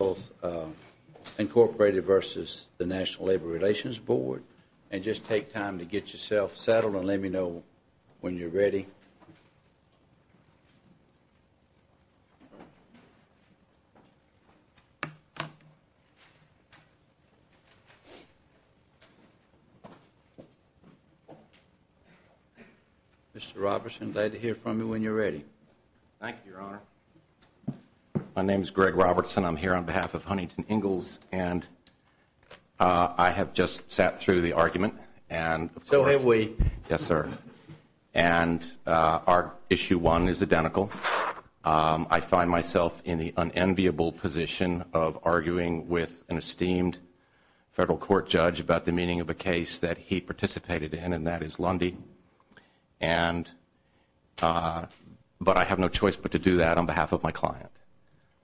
and just take time to get yourself settled and let me know when you're ready. Mr. Robertson, glad to hear from you when you're ready. My name is Greg Robertson. I'm here on behalf of Huntington Ingalls. And I have just sat through the argument. And so have we. Yes, sir. And our issue one is identical. I find myself in the unenviable position of arguing with an esteemed federal court judge about the meaning of a case that he participated in. And that is Lundy. But I have no choice but to do that on behalf of my client.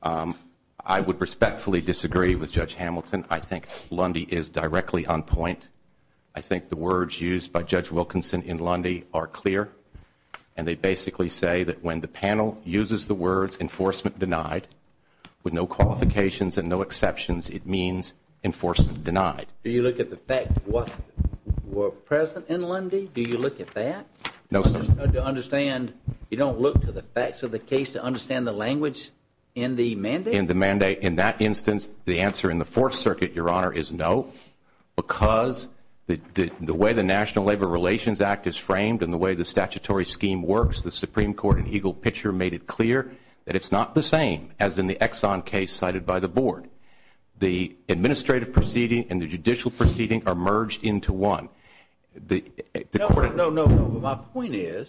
I would respectfully disagree with Judge Hamilton. I think Lundy is directly on point. I think the words used by Judge Wilkinson in Lundy are clear. And they basically say that when the panel uses the words enforcement denied, with no qualifications and no exceptions, it means enforcement denied. Do you look at the facts that were present in Lundy? Do you look at that? No, sir. You don't look to the facts of the case to understand the language in the mandate? In the mandate, in that instance, the answer in the Fourth Circuit, Your Honor, is no. Because the way the National Labor Relations Act is framed and the way the statutory scheme works, the Supreme Court in Eagle Picture made it clear that it's not the same as in the Exxon case cited by the board. The administrative proceeding and the judicial proceeding are merged into one. No, no, no. My point is,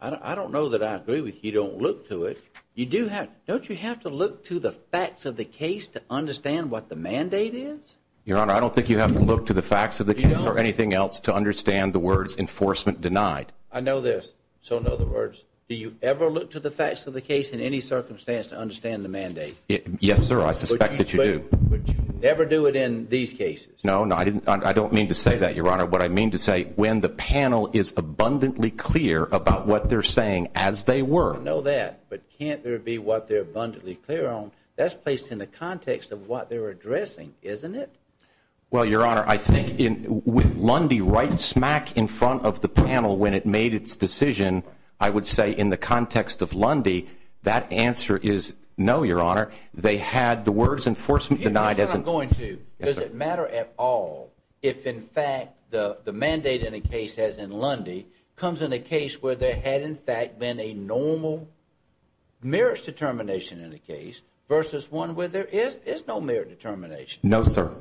I don't know that I agree with you don't look to it. Don't you have to look to the facts of the case to understand what the mandate is? Your Honor, I don't think you have to look to the facts of the case or anything else to understand the words enforcement denied. I know this. So in other words, do you ever look to the facts of the case in any circumstance to understand the mandate? Yes, sir. I suspect that you do. But you never do it in these cases? No, no. I don't mean to say that, Your Honor. What I mean to say, when the panel is abundantly clear about what they're saying as they were. I know that. But can't there be what they're abundantly clear on? That's placed in the context of what they're addressing, isn't it? Well, Your Honor, I think with Lundy right smack in front of the panel when it made its decision, I would say in the context of Lundy, that answer is no, Your Honor. They had the words enforcement denied. I'm going to. Does it matter at all if, in fact, the mandate in a case, as in Lundy, comes in a case where there had, in fact, been a normal merits determination in a case versus one where there is no merit determination? No, sir.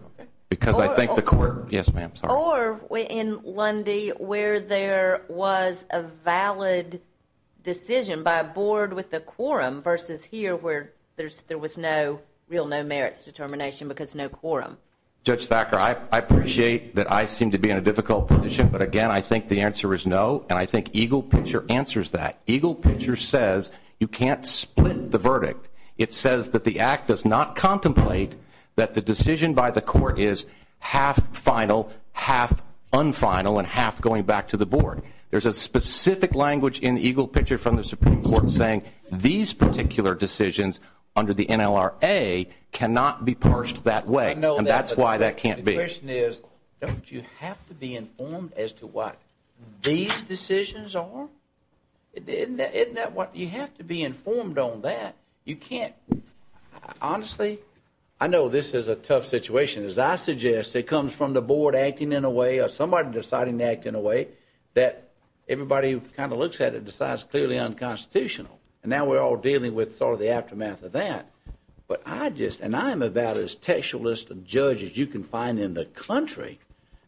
Because I think the court. Yes, ma'am. Or in Lundy where there was a valid decision by a board with a quorum versus here where there was no real no merits determination because no quorum? Judge Thacker, I appreciate that I seem to be in a difficult position, but, again, I think the answer is no, and I think Eagle Picture answers that. Eagle Picture says you can't split the verdict. It says that the act does not contemplate that the decision by the court is half final, half unfinal, and half going back to the board. There's a specific language in Eagle Picture from the Supreme Court saying these particular decisions under the NLRA cannot be parsed that way, and that's why that can't be. The question is don't you have to be informed as to what these decisions are? Isn't that what you have to be informed on that? You can't. Honestly, I know this is a tough situation. As I suggest, it comes from the board acting in a way or somebody deciding to act in a way that everybody kind of looks at it and decides it's clearly unconstitutional, and now we're all dealing with sort of the aftermath of that. But I just, and I'm about as textualist a judge as you can find in the country,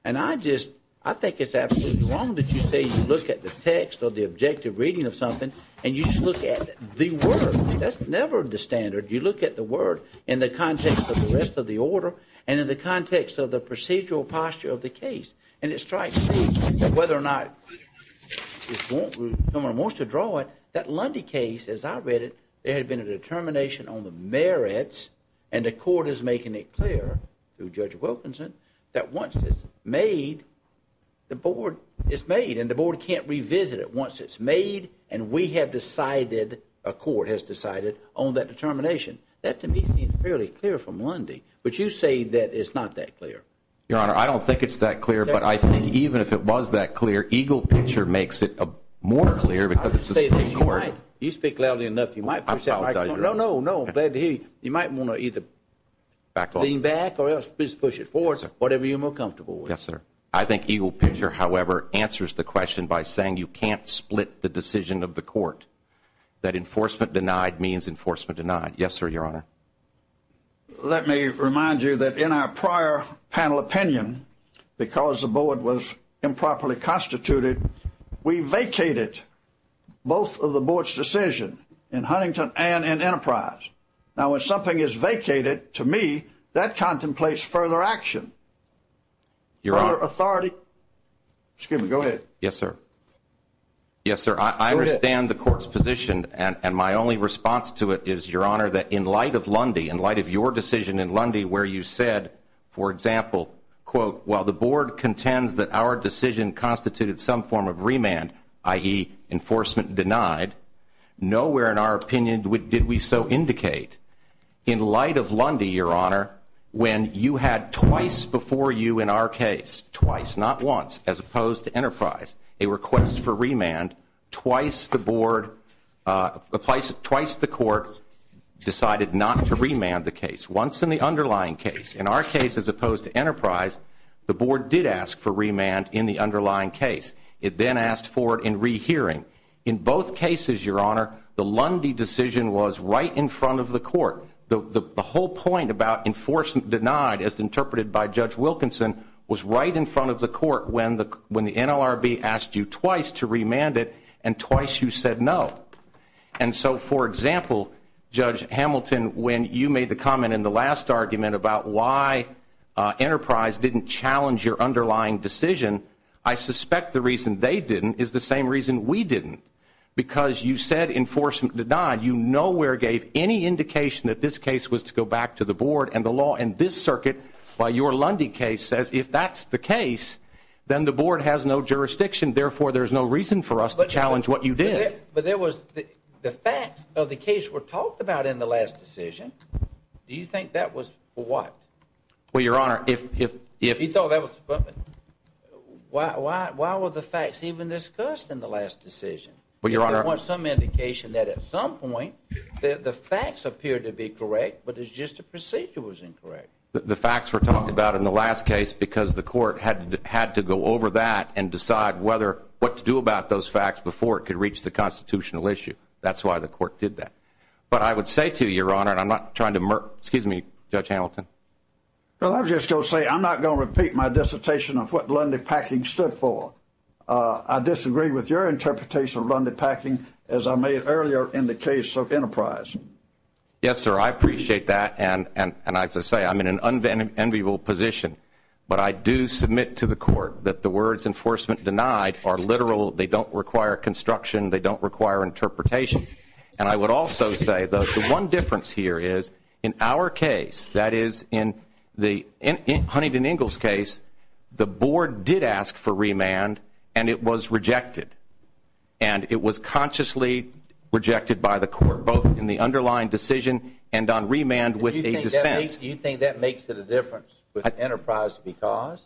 and I just, I think it's absolutely wrong that you say you look at the text or the objective reading of something and you just look at the word. That's never the standard. You look at the word in the context of the rest of the order and in the context of the procedural posture of the case, and it strikes me that whether or not someone wants to draw it, that Lundy case, as I read it, there had been a determination on the merits, and the court is making it clear through Judge Wilkinson, that once it's made, the board is made and the board can't revisit it. Once it's made and we have decided, a court has decided on that determination, that to me seems fairly clear from Lundy. But you say that it's not that clear. Your Honor, I don't think it's that clear, but I think even if it was that clear, Eagle Picture makes it more clear because it's a Supreme Court. You speak loudly enough, you might push that back. No, no, no. I'm glad to hear you. You might want to either lean back or else just push it forward, whatever you're more comfortable with. Yes, sir. I think Eagle Picture, however, answers the question by saying you can't split the decision of the court, that enforcement denied means enforcement denied. Yes, sir, Your Honor. Let me remind you that in our prior panel opinion, because the board was improperly constituted, we vacated both of the board's decisions in Huntington and in Enterprise. Now, when something is vacated, to me, that contemplates further action, further authority. Excuse me. Go ahead. Yes, sir. Yes, sir, I understand the court's position, and my only response to it is, Your Honor, that in light of Lundy, in light of your decision in Lundy where you said, for example, quote, while the board contends that our decision constituted some form of remand, i.e. enforcement denied, nowhere in our opinion did we so indicate. In light of Lundy, Your Honor, when you had twice before you in our case, twice, not once, as opposed to Enterprise, a request for remand, twice the board, twice the court decided not to remand the case, once in the underlying case. In our case, as opposed to Enterprise, the board did ask for remand in the underlying case. It then asked for it in rehearing. In both cases, Your Honor, the Lundy decision was right in front of the court. The whole point about enforcement denied, as interpreted by Judge Wilkinson, was right in front of the court when the NLRB asked you twice to remand it and twice you said no. And so, for example, Judge Hamilton, when you made the comment in the last argument about why Enterprise didn't challenge your underlying decision, I suspect the reason they didn't is the same reason we didn't. Because you said enforcement denied, you nowhere gave any indication that this case was to go back to the board and the law in this circuit by your Lundy case says if that's the case, then the board has no jurisdiction. Therefore, there's no reason for us to challenge what you did. But there was the facts of the case were talked about in the last decision. Do you think that was for what? Well, Your Honor, if... He thought that was... Why were the facts even discussed in the last decision? Well, Your Honor... There was some indication that at some point the facts appeared to be correct, but it's just the procedure was incorrect. The facts were talked about in the last case because the court had to go over that and decide what to do about those facts before it could reach the constitutional issue. That's why the court did that. But I would say to you, Your Honor, and I'm not trying to... Excuse me, Judge Hamilton. Well, I was just going to say I'm not going to repeat my dissertation of what Lundy Packing stood for. I disagree with your interpretation of Lundy Packing as I made earlier in the case of Enterprise. Yes, sir, I appreciate that. And as I say, I'm in an unenviable position. But I do submit to the court that the words enforcement denied are literal. They don't require construction. They don't require interpretation. And I would also say the one difference here is in our case, that is, in Huntington Ingalls' case, the board did ask for remand, and it was rejected. And it was consciously rejected by the court, both in the underlying decision and on remand with a dissent. Do you think that makes it a difference with Enterprise because?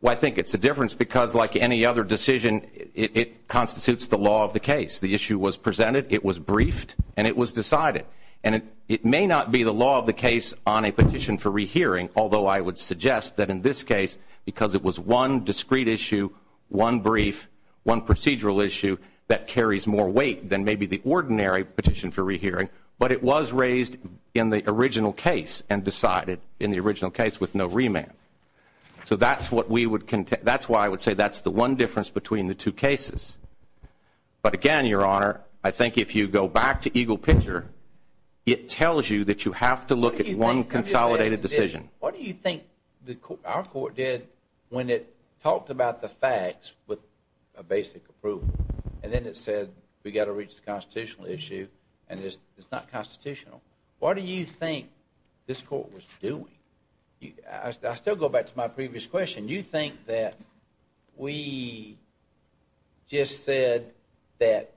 Well, I think it's a difference because, like any other decision, it constitutes the law of the case. The issue was presented, it was briefed, and it was decided. And it may not be the law of the case on a petition for rehearing, although I would suggest that in this case, because it was one discrete issue, one brief, one procedural issue, that carries more weight than maybe the ordinary petition for rehearing. But it was raised in the original case and decided in the original case with no remand. So that's why I would say that's the one difference between the two cases. But, again, Your Honor, I think if you go back to Eagle Picture, it tells you that you have to look at one consolidated decision. What do you think our court did when it talked about the facts with a basic approval? And then it said we've got to reach the constitutional issue, and it's not constitutional. What do you think this court was doing? I still go back to my previous question. You think that we just said that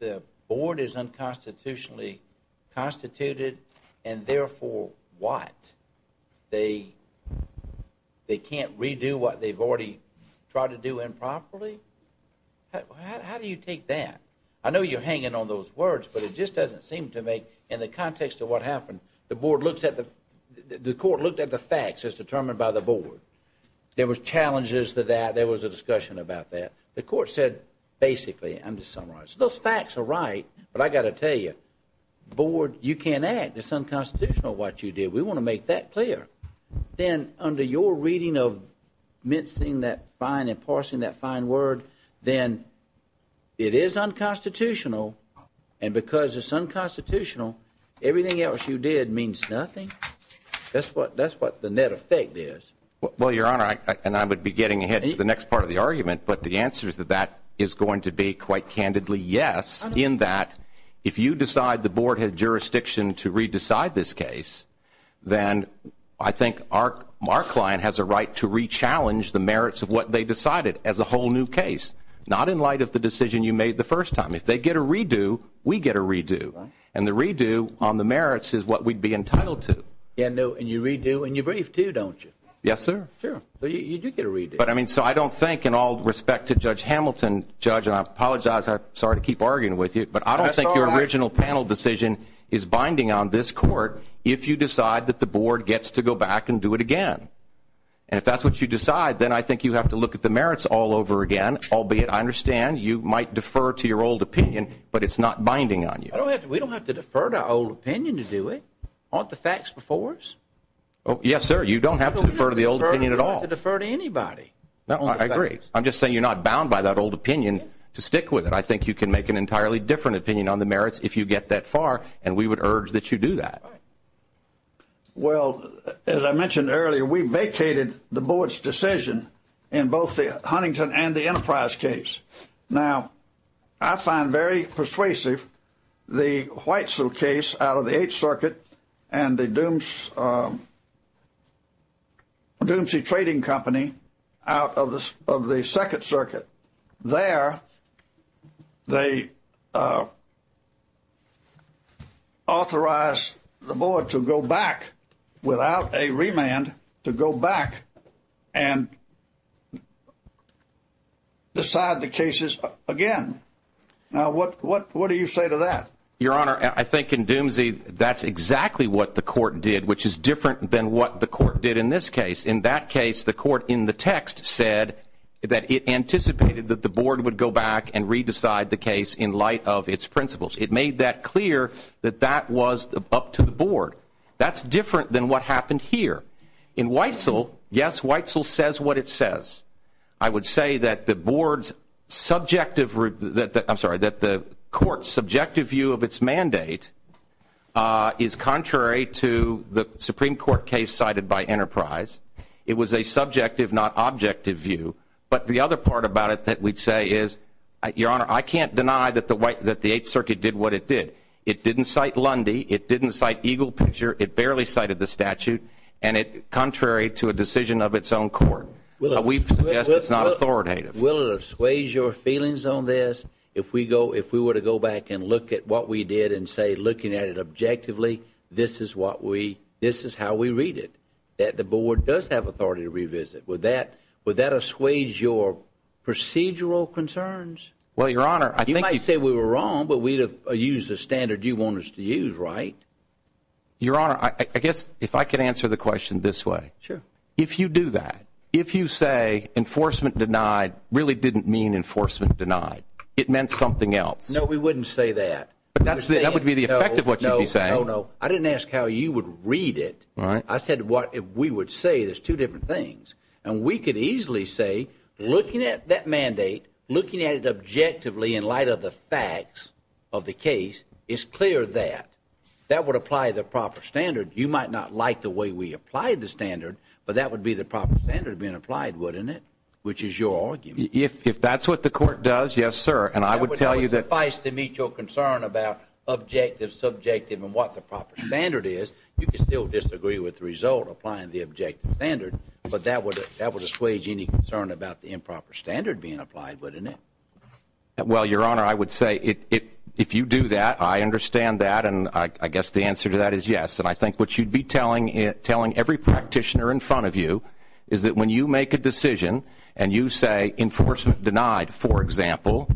the board is unconstitutionally constituted and therefore what? They can't redo what they've already tried to do improperly? How do you take that? I know you're hanging on those words, but it just doesn't seem to make, in the context of what happened, the court looked at the facts as determined by the board. There was challenges to that. There was a discussion about that. The court said, basically, I'm just summarizing. Those facts are right, but I've got to tell you, board, you can't act. It's unconstitutional what you did. We want to make that clear. Then under your reading of mincing that fine and parsing that fine word, then it is unconstitutional, and because it's unconstitutional, everything else you did means nothing. That's what the net effect is. Well, Your Honor, and I would be getting ahead to the next part of the argument, but the answer is that that is going to be quite candidly yes, in that if you decide the board has jurisdiction to re-decide this case, then I think our client has a right to re-challenge the merits of what they decided as a whole new case, not in light of the decision you made the first time. If they get a re-do, we get a re-do, and the re-do on the merits is what we'd be entitled to. And you re-do and you brief, too, don't you? Yes, sir. So you do get a re-do. But, I mean, so I don't think in all respect to Judge Hamilton, Judge, and I apologize, I'm sorry to keep arguing with you, but I don't think your original panel decision is binding on this court if you decide that the board gets to go back and do it again, and if that's what you decide, then I think you have to look at the merits all over again, albeit I understand you might defer to your old opinion, but it's not binding on you. We don't have to defer to our old opinion to do it. Aren't the facts before us? Yes, sir. You don't have to defer to the old opinion at all. You don't have to defer to anybody. I agree. I'm just saying you're not bound by that old opinion to stick with it. I think you can make an entirely different opinion on the merits if you get that far, and we would urge that you do that. Right. Well, as I mentioned earlier, we vacated the board's decision in both the Huntington and the Enterprise case. Now, I find very persuasive the Whitesell case out of the Eighth Circuit and the Doomsday Trading Company out of the Second Circuit. There they authorized the board to go back without a remand, to go back and decide the cases again. Now, what do you say to that? Your Honor, I think in Doomsday that's exactly what the court did, which is different than what the court did in this case. In that case, the court in the text said that it anticipated that the board would go back and re-decide the case in light of its principles. It made that clear that that was up to the board. That's different than what happened here. In Whitesell, yes, Whitesell says what it says. I would say that the court's subjective view of its mandate is contrary to the Supreme Court case cited by Enterprise. It was a subjective, not objective view. But the other part about it that we'd say is, Your Honor, I can't deny that the Eighth Circuit did what it did. It didn't cite Lundy. It didn't cite Eagle Picture. It barely cited the statute, contrary to a decision of its own court. We suggest it's not authoritative. Will it assuage your feelings on this if we were to go back and look at what we did and say, looking at it objectively, this is how we read it, that the board does have authority to revisit? Would that assuage your procedural concerns? Well, Your Honor, I think you might say we were wrong, but we used the standard you want us to use, right? Your Honor, I guess if I could answer the question this way. Sure. If you do that, if you say enforcement denied really didn't mean enforcement denied. It meant something else. No, we wouldn't say that. That would be the effect of what you'd be saying. No, no, no. I didn't ask how you would read it. All right. I said we would say there's two different things. And we could easily say, looking at that mandate, looking at it objectively in light of the facts of the case, it's clear that. That would apply the proper standard. You might not like the way we applied the standard, but that would be the proper standard being applied, wouldn't it? Which is your argument. If that's what the court does, yes, sir, and I would tell you that. That would suffice to meet your concern about objective, subjective, and what the proper standard is. You could still disagree with the result applying the objective standard, but that would assuage any concern about the improper standard being applied, wouldn't it? Well, Your Honor, I would say if you do that, I understand that, and I guess the answer to that is yes. And I think what you'd be telling every practitioner in front of you is that when you make a decision and you say enforcement denied, for example,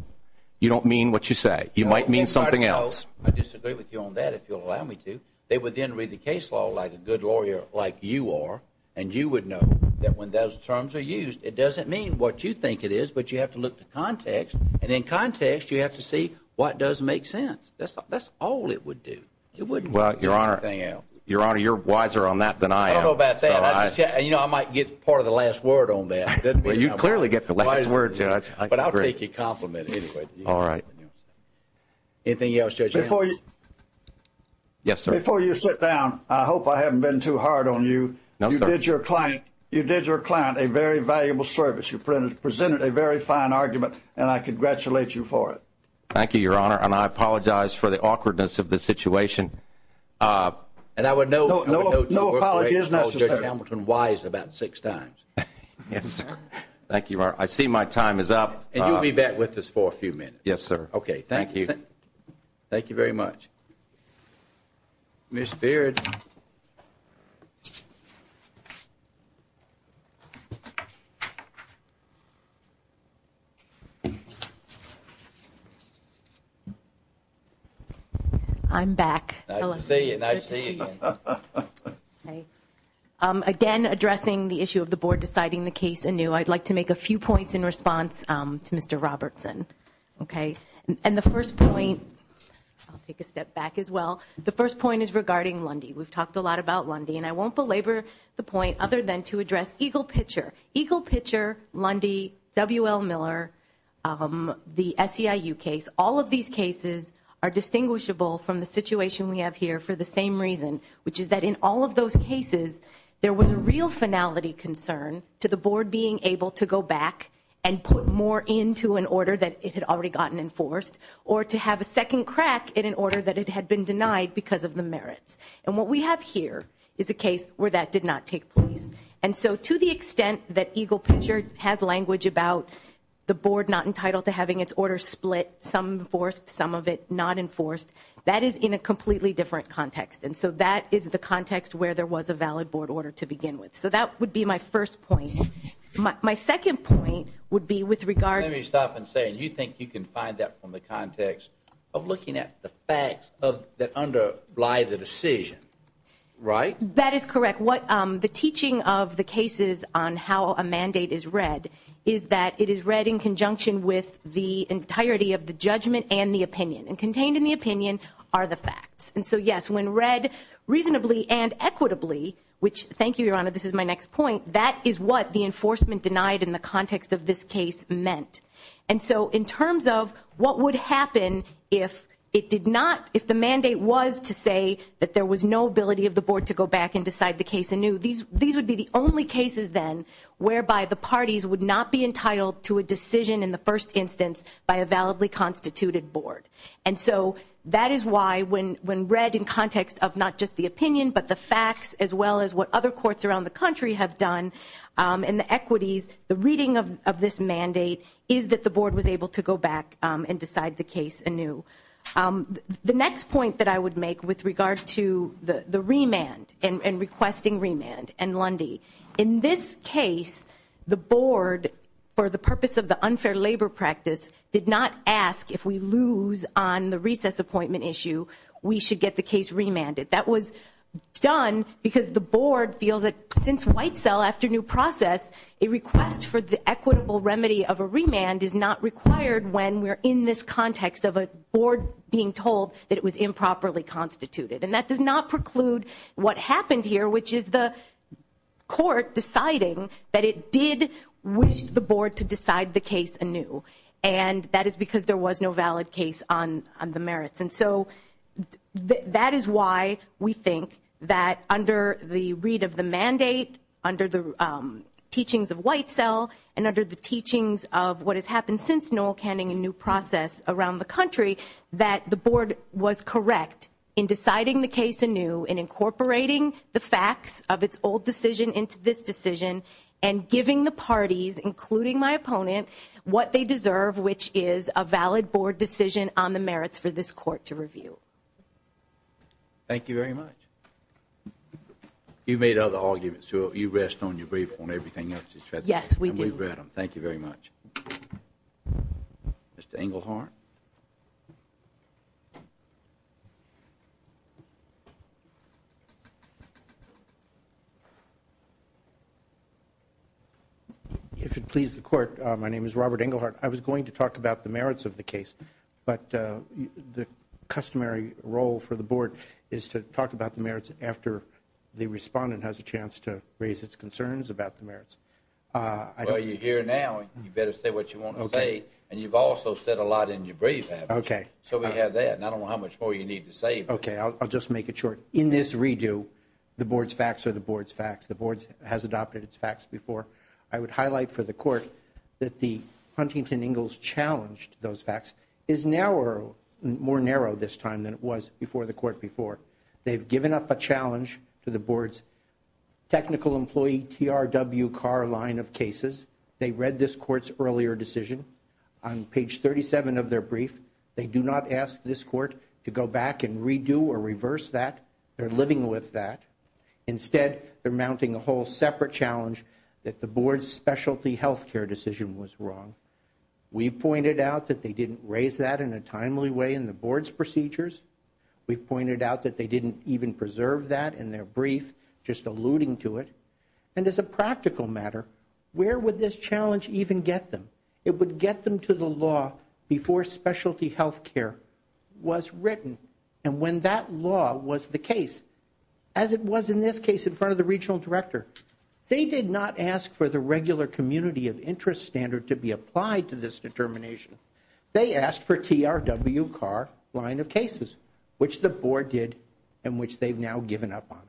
you don't mean what you say. You might mean something else. I disagree with you on that, if you'll allow me to. They would then read the case law like a good lawyer like you are, and you would know that when those terms are used, it doesn't mean what you think it is, but you have to look to context, and in context, you have to see what does make sense. That's all it would do. Well, Your Honor, Your Honor, you're wiser on that than I am. I don't know about that. You know, I might get part of the last word on that. Well, you'd clearly get the last word, Judge. But I'll take your compliment anyway. All right. Anything else, Judge Adams? Before you sit down, I hope I haven't been too hard on you. No, sir. You did your client a very valuable service. You presented a very fine argument, and I congratulate you for it. Thank you, Your Honor. And I apologize for the awkwardness of the situation. And I would note your workplace called Judge Hamilton wise about six times. Yes, sir. Thank you, Your Honor. I see my time is up. And you'll be back with us for a few minutes. Yes, sir. Okay. Thank you. Thank you very much. Ms. Beard. I'm back. Nice to see you. Nice to see you again. Okay. Again, addressing the issue of the board deciding the case anew, I'd like to make a few points in response to Mr. Robertson. Okay. And the first point, I'll take a step back as well. The first point is regarding Lundy. We've talked a lot about Lundy, and I won't belabor the point other than to address Eagle Pitcher. Eagle Pitcher, Lundy, W.L. Miller, the SEIU case, all of these cases are distinguishable from the situation we have here for the same reason, which is that in all of those cases, there was a real finality concern to the board being able to go back and put more into an order that it had already gotten enforced or to have a second crack in an order that it had been denied because of the merits. And what we have here is a case where that did not take place. And so to the extent that Eagle Pitcher has language about the board not entitled to having its order split, some enforced, some of it not enforced, that is in a completely different context. And so that is the context where there was a valid board order to begin with. So that would be my first point. My second point would be with regard to ---- Let me stop and say, and you think you can find that from the context of looking at the facts that underlie the decision, right? That is correct. The teaching of the cases on how a mandate is read is that it is read in conjunction with the entirety of the judgment and the opinion. And contained in the opinion are the facts. And so, yes, when read reasonably and equitably, which, thank you, Your Honor, this is my next point, that is what the enforcement denied in the context of this case meant. And so in terms of what would happen if it did not, if the mandate was to say that there was no ability of the board to go back and decide the case anew, these would be the only cases, then, whereby the parties would not be entitled to a decision in the first instance by a validly constituted board. And so that is why when read in context of not just the opinion but the facts as well as what other courts around the country have done and the equities, the reading of this mandate is that the board was able to go back and decide the case anew. The next point that I would make with regard to the remand and requesting remand and Lundy, in this case the board, for the purpose of the unfair labor practice, did not ask if we lose on the recess appointment issue, we should get the case remanded. That was done because the board feels that since White Cell after new process, a request for the equitable remedy of a remand is not required when we're in this context of a board being told that it was improperly constituted. And that does not preclude what happened here, which is the court deciding that it did wish the board to decide the case anew. And that is because there was no valid case on the merits. And so that is why we think that under the read of the mandate, under the teachings of White Cell, and under the teachings of what has happened since Noel Canning and new process around the country, that the board was correct in deciding the case anew and incorporating the facts of its old decision into this decision and giving the parties, including my opponent, what they deserve, which is a valid board decision on the merits for this court to review. Thank you very much. You've made other arguments, so you rest on your brief on everything else. Yes, we do. And we've read them. Thank you very much. Mr. Engelhardt? If it pleases the court, my name is Robert Engelhardt. I was going to talk about the merits of the case, but the customary role for the board is to talk about the merits after the respondent has a chance to raise its concerns about the merits. Well, you're here now. You better say what you want to say. And you've also said a lot in your brief. Okay. So we have that. And I don't know how much more you need to say. Okay, I'll just make it short. In this redo, the board's facts are the board's facts. The board has adopted its facts before. I would highlight for the court that the Huntington-Engels challenge to those facts is more narrow this time than it was before the court before. They've given up a challenge to the board's technical employee TRW car line of cases. They read this court's earlier decision. On page 37 of their brief, they do not ask this court to go back and redo or reverse that. They're living with that. Instead, they're mounting a whole separate challenge that the board's specialty healthcare decision was wrong. We've pointed out that they didn't raise that in a timely way in the board's procedures. We've pointed out that they didn't even preserve that in their brief, just alluding to it. And as a practical matter, where would this challenge even get them? It would get them to the law before specialty healthcare was written. And when that law was the case, as it was in this case in front of the regional director, they did not ask for the regular community of interest standard to be applied to this determination. They asked for TRW car line of cases, which the board did and which they've now given up on.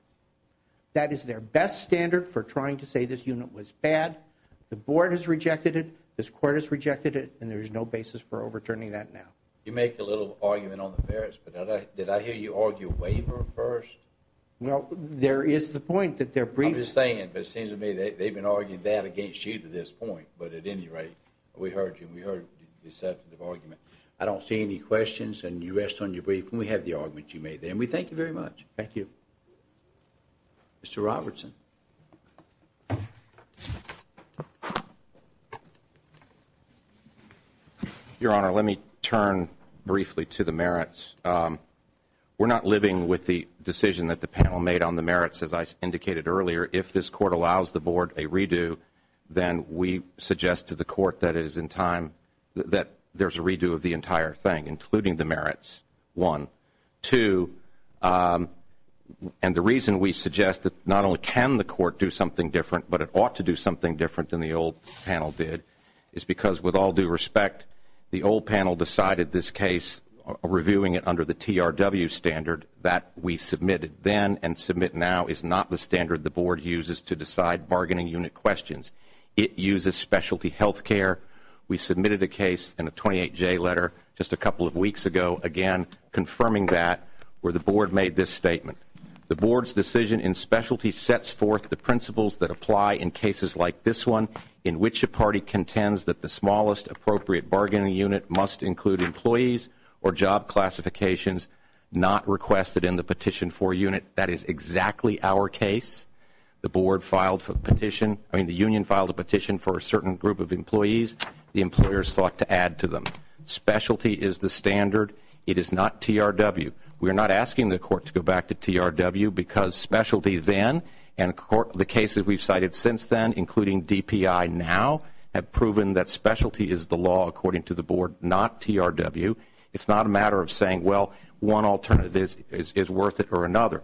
That is their best standard for trying to say this unit was bad. The board has rejected it. This court has rejected it. And there's no basis for overturning that now. You make a little argument on the merits, but did I hear you argue waiver first? Well, there is the point that they're brief. I'm just saying, but it seems to me that they've been arguing that against you to this point. But at any rate, we heard you. We heard deceptive argument. I don't see any questions and you rest on your brief. And we have the argument you made there. And we thank you very much. Thank you. Mr. Robertson. Your Honor, let me turn briefly to the merits. We're not living with the decision that the panel made on the merits, as I indicated earlier. If this court allows the board a redo, then we suggest to the court that it is in time that there's a redo of the entire thing, including the merits. One. And the reason we suggest that not only can the court do that, but it ought to do something different than the old panel did, is because with all due respect, the old panel decided this case reviewing it under the TRW standard that we submitted then and submit now is not the standard the board uses to decide bargaining unit questions. It uses specialty health care. We submitted a case in a 28-J letter just a couple of weeks ago, again, confirming that where the board made this statement. The board's decision in specialty sets forth the principles that apply in cases like this one in which a party contends that the smallest appropriate bargaining unit must include employees or job classifications not requested in the petition for unit. That is exactly our case. The board filed a petition. I mean, the union filed a petition for a certain group of employees. The employers sought to add to them. Specialty is the standard. It is not TRW. We are not asking the court to go back to TRW because specialty then and the cases we've cited since then, including DPI now, have proven that specialty is the law according to the board, not TRW. It's not a matter of saying, well, one alternative is worth it or another.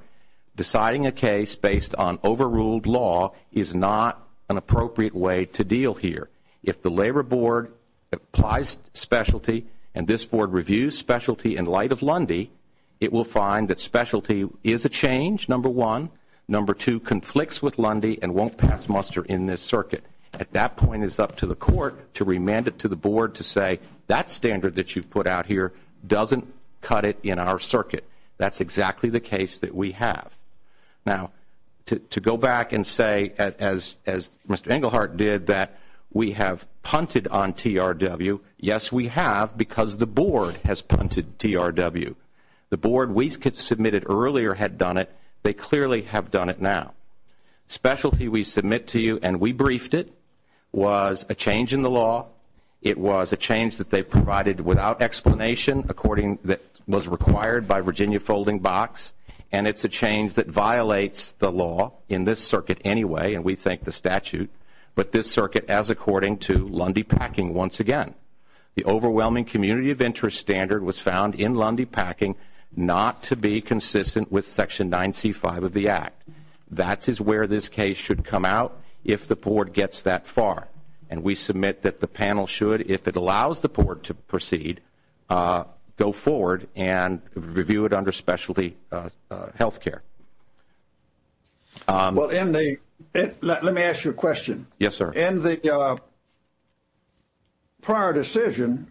Deciding a case based on overruled law is not an appropriate way to deal here. If the labor board applies specialty and this board reviews specialty in light of Lundy, it will find that specialty is a change, number one. Number two, conflicts with Lundy and won't pass muster in this circuit. At that point, it's up to the court to remand it to the board to say that standard that you've put out here doesn't cut it in our circuit. That's exactly the case that we have. Now, to go back and say, as Mr. Englehart did, that we have punted on TRW, yes, we have because the board has punted TRW. The board we submitted earlier had done it. They clearly have done it now. Specialty we submit to you and we briefed it was a change in the law. It was a change that they provided without explanation that was required by Virginia Folding Box, and it's a change that violates the law in this circuit anyway, and we thank the statute. But this circuit, as according to Lundy Packing once again, the overwhelming community of interest standard was found in Lundy Packing not to be consistent with Section 9C5 of the Act. That is where this case should come out if the board gets that far, and we submit that the panel should, if it allows the board to proceed, go forward and review it under specialty health care. Well, let me ask you a question. Yes, sir. In the prior decision,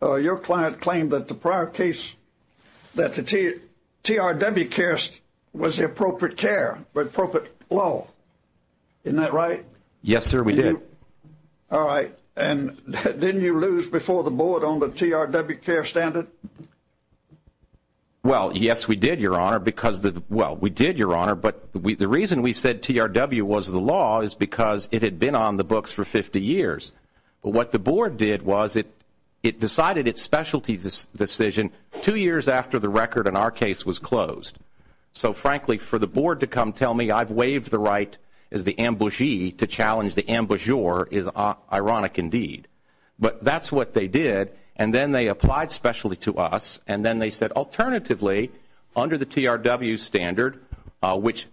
your client claimed that the prior case, that the TRW care was the appropriate care, the appropriate law. Isn't that right? Yes, sir, we did. All right. And didn't you lose before the board on the TRW care standard? Well, yes, we did, Your Honor, because the – well, we did, Your Honor, but the reason we said TRW was the law is because it had been on the books for 50 years. But what the board did was it decided its specialty decision two years after the record in our case was closed. So, frankly, for the board to come tell me I've waived the right as the ambugee to challenge the ambugeur is ironic indeed. But that's what they did, and then they applied specialty to us and then they said alternatively, under the TRW standard, which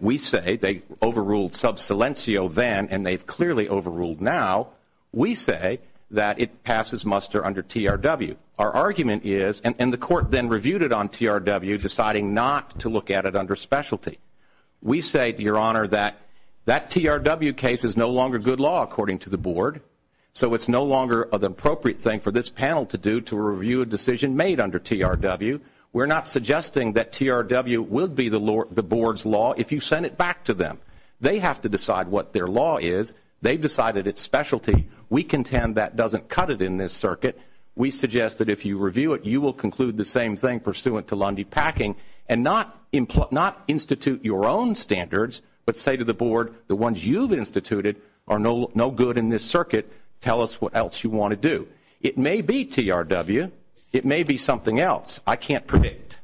we say they overruled sub silencio then and they've clearly overruled now, we say that it passes muster under TRW. Our argument is – and the court then reviewed it on TRW, deciding not to look at it under specialty. We say, Your Honor, that that TRW case is no longer good law, according to the board, so it's no longer the appropriate thing for this panel to do to review a decision made under TRW. We're not suggesting that TRW will be the board's law if you send it back to them. They have to decide what their law is. They've decided its specialty. We contend that doesn't cut it in this circuit. We suggest that if you review it, you will conclude the same thing, pursuant to Lundy-Packing, and not institute your own standards, but say to the board, the ones you've instituted are no good in this circuit. Tell us what else you want to do. It may be TRW. It may be something else. I can't predict.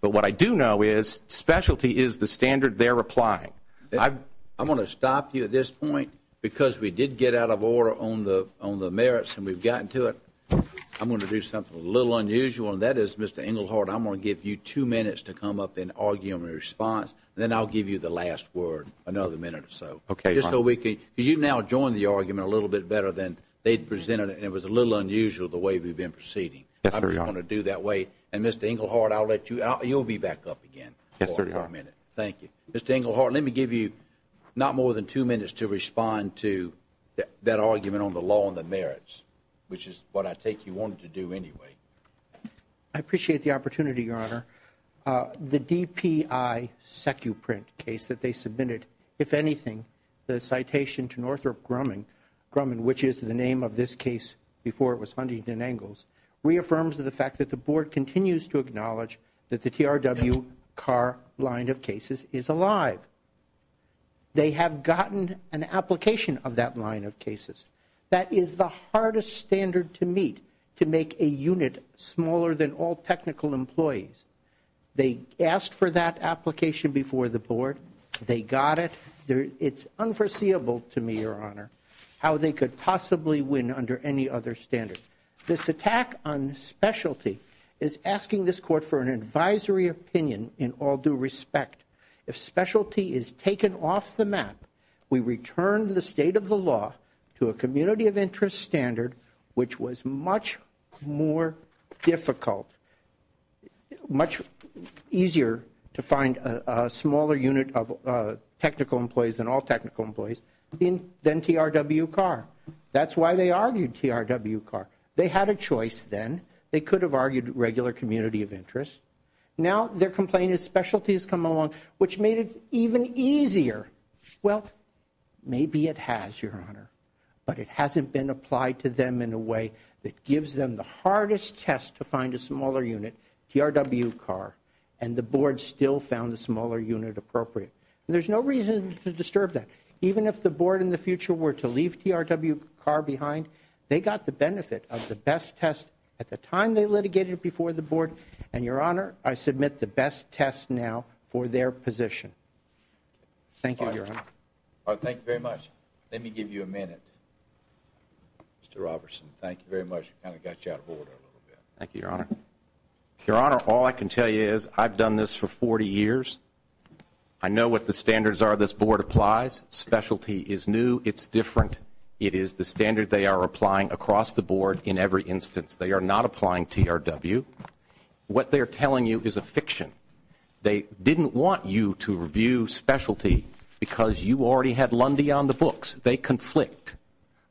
But what I do know is specialty is the standard they're applying. I'm going to stop you at this point because we did get out of order on the merits and we've gotten to it. I'm going to do something a little unusual, and that is, Mr. Englehart, I'm going to give you two minutes to come up and argue in response, and then I'll give you the last word, another minute or so. Okay. Just so we can, because you've now joined the argument a little bit better than they'd presented it, and it was a little unusual the way we've been proceeding. I'm just going to do that way. And, Mr. Englehart, I'll let you out. You'll be back up again for a minute. Thank you. Mr. Englehart, let me give you not more than two minutes to respond to that argument on the law and the merits, which is what I take you wanted to do anyway. I appreciate the opportunity, Your Honor. The DPI SECU print case that they submitted, if anything, the citation to Northrop Grumman, which is the name of this case before it was funded in Engels, reaffirms the fact that the Board continues to acknowledge that the TRW CAR line of cases is alive. They have gotten an application of that line of cases. That is the hardest standard to meet, to make a unit smaller than all technical employees. They asked for that application before the Board. They got it. It's unforeseeable to me, Your Honor, how they could possibly win under any other standard. This attack on specialty is asking this Court for an advisory opinion in all due respect. If specialty is taken off the map, we return the state of the law to a community of interest standard, which was much more difficult, much easier to find a smaller unit of technical employees than all technical employees than TRW CAR. That's why they argued TRW CAR. They had a choice then. They could have argued regular community of interest. Now their complaint is specialty has come along, which made it even easier. Well, maybe it has, Your Honor, but it hasn't been applied to them in a way that gives them the hardest test to find a smaller unit, TRW CAR, and the Board still found the smaller unit appropriate. There's no reason to disturb that. Even if the Board in the future were to leave TRW CAR behind, they got the benefit of the best test at the time they litigated it before the Board, and, Your Honor, I submit the best test now for their position. Thank you, Your Honor. Thank you very much. Let me give you a minute. Mr. Robertson, thank you very much. We kind of got you out of order a little bit. Thank you, Your Honor. Your Honor, all I can tell you is I've done this for 40 years. I know what the standards are this Board applies. Specialty is new. It's different. It is the standard they are applying across the Board in every instance. They are not applying TRW. What they are telling you is a fiction. They didn't want you to review specialty because you already had Lundy on the books. They conflict.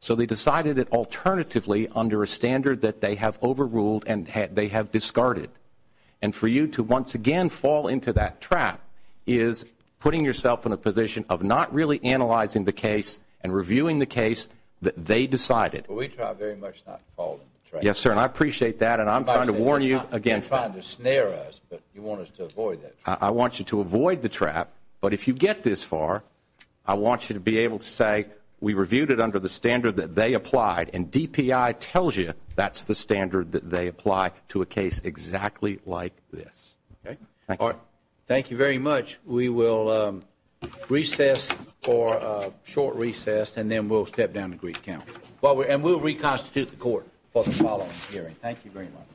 So they decided it alternatively under a standard that they have overruled and they have discarded. And for you to once again fall into that trap is putting yourself in a position of not really analyzing the case and reviewing the case that they decided. Well, we try very much not to fall into the trap. Yes, sir, and I appreciate that. And I'm trying to warn you against that. You're trying to snare us, but you want us to avoid that. I want you to avoid the trap. But if you get this far, I want you to be able to say we reviewed it under the standard that they applied and DPI tells you that's the standard that they apply to a case exactly like this. Okay. Thank you. Thank you very much. We will recess for a short recess and then we'll step down to brief counsel. And we'll reconstitute the court for the following hearing. Thank you very much.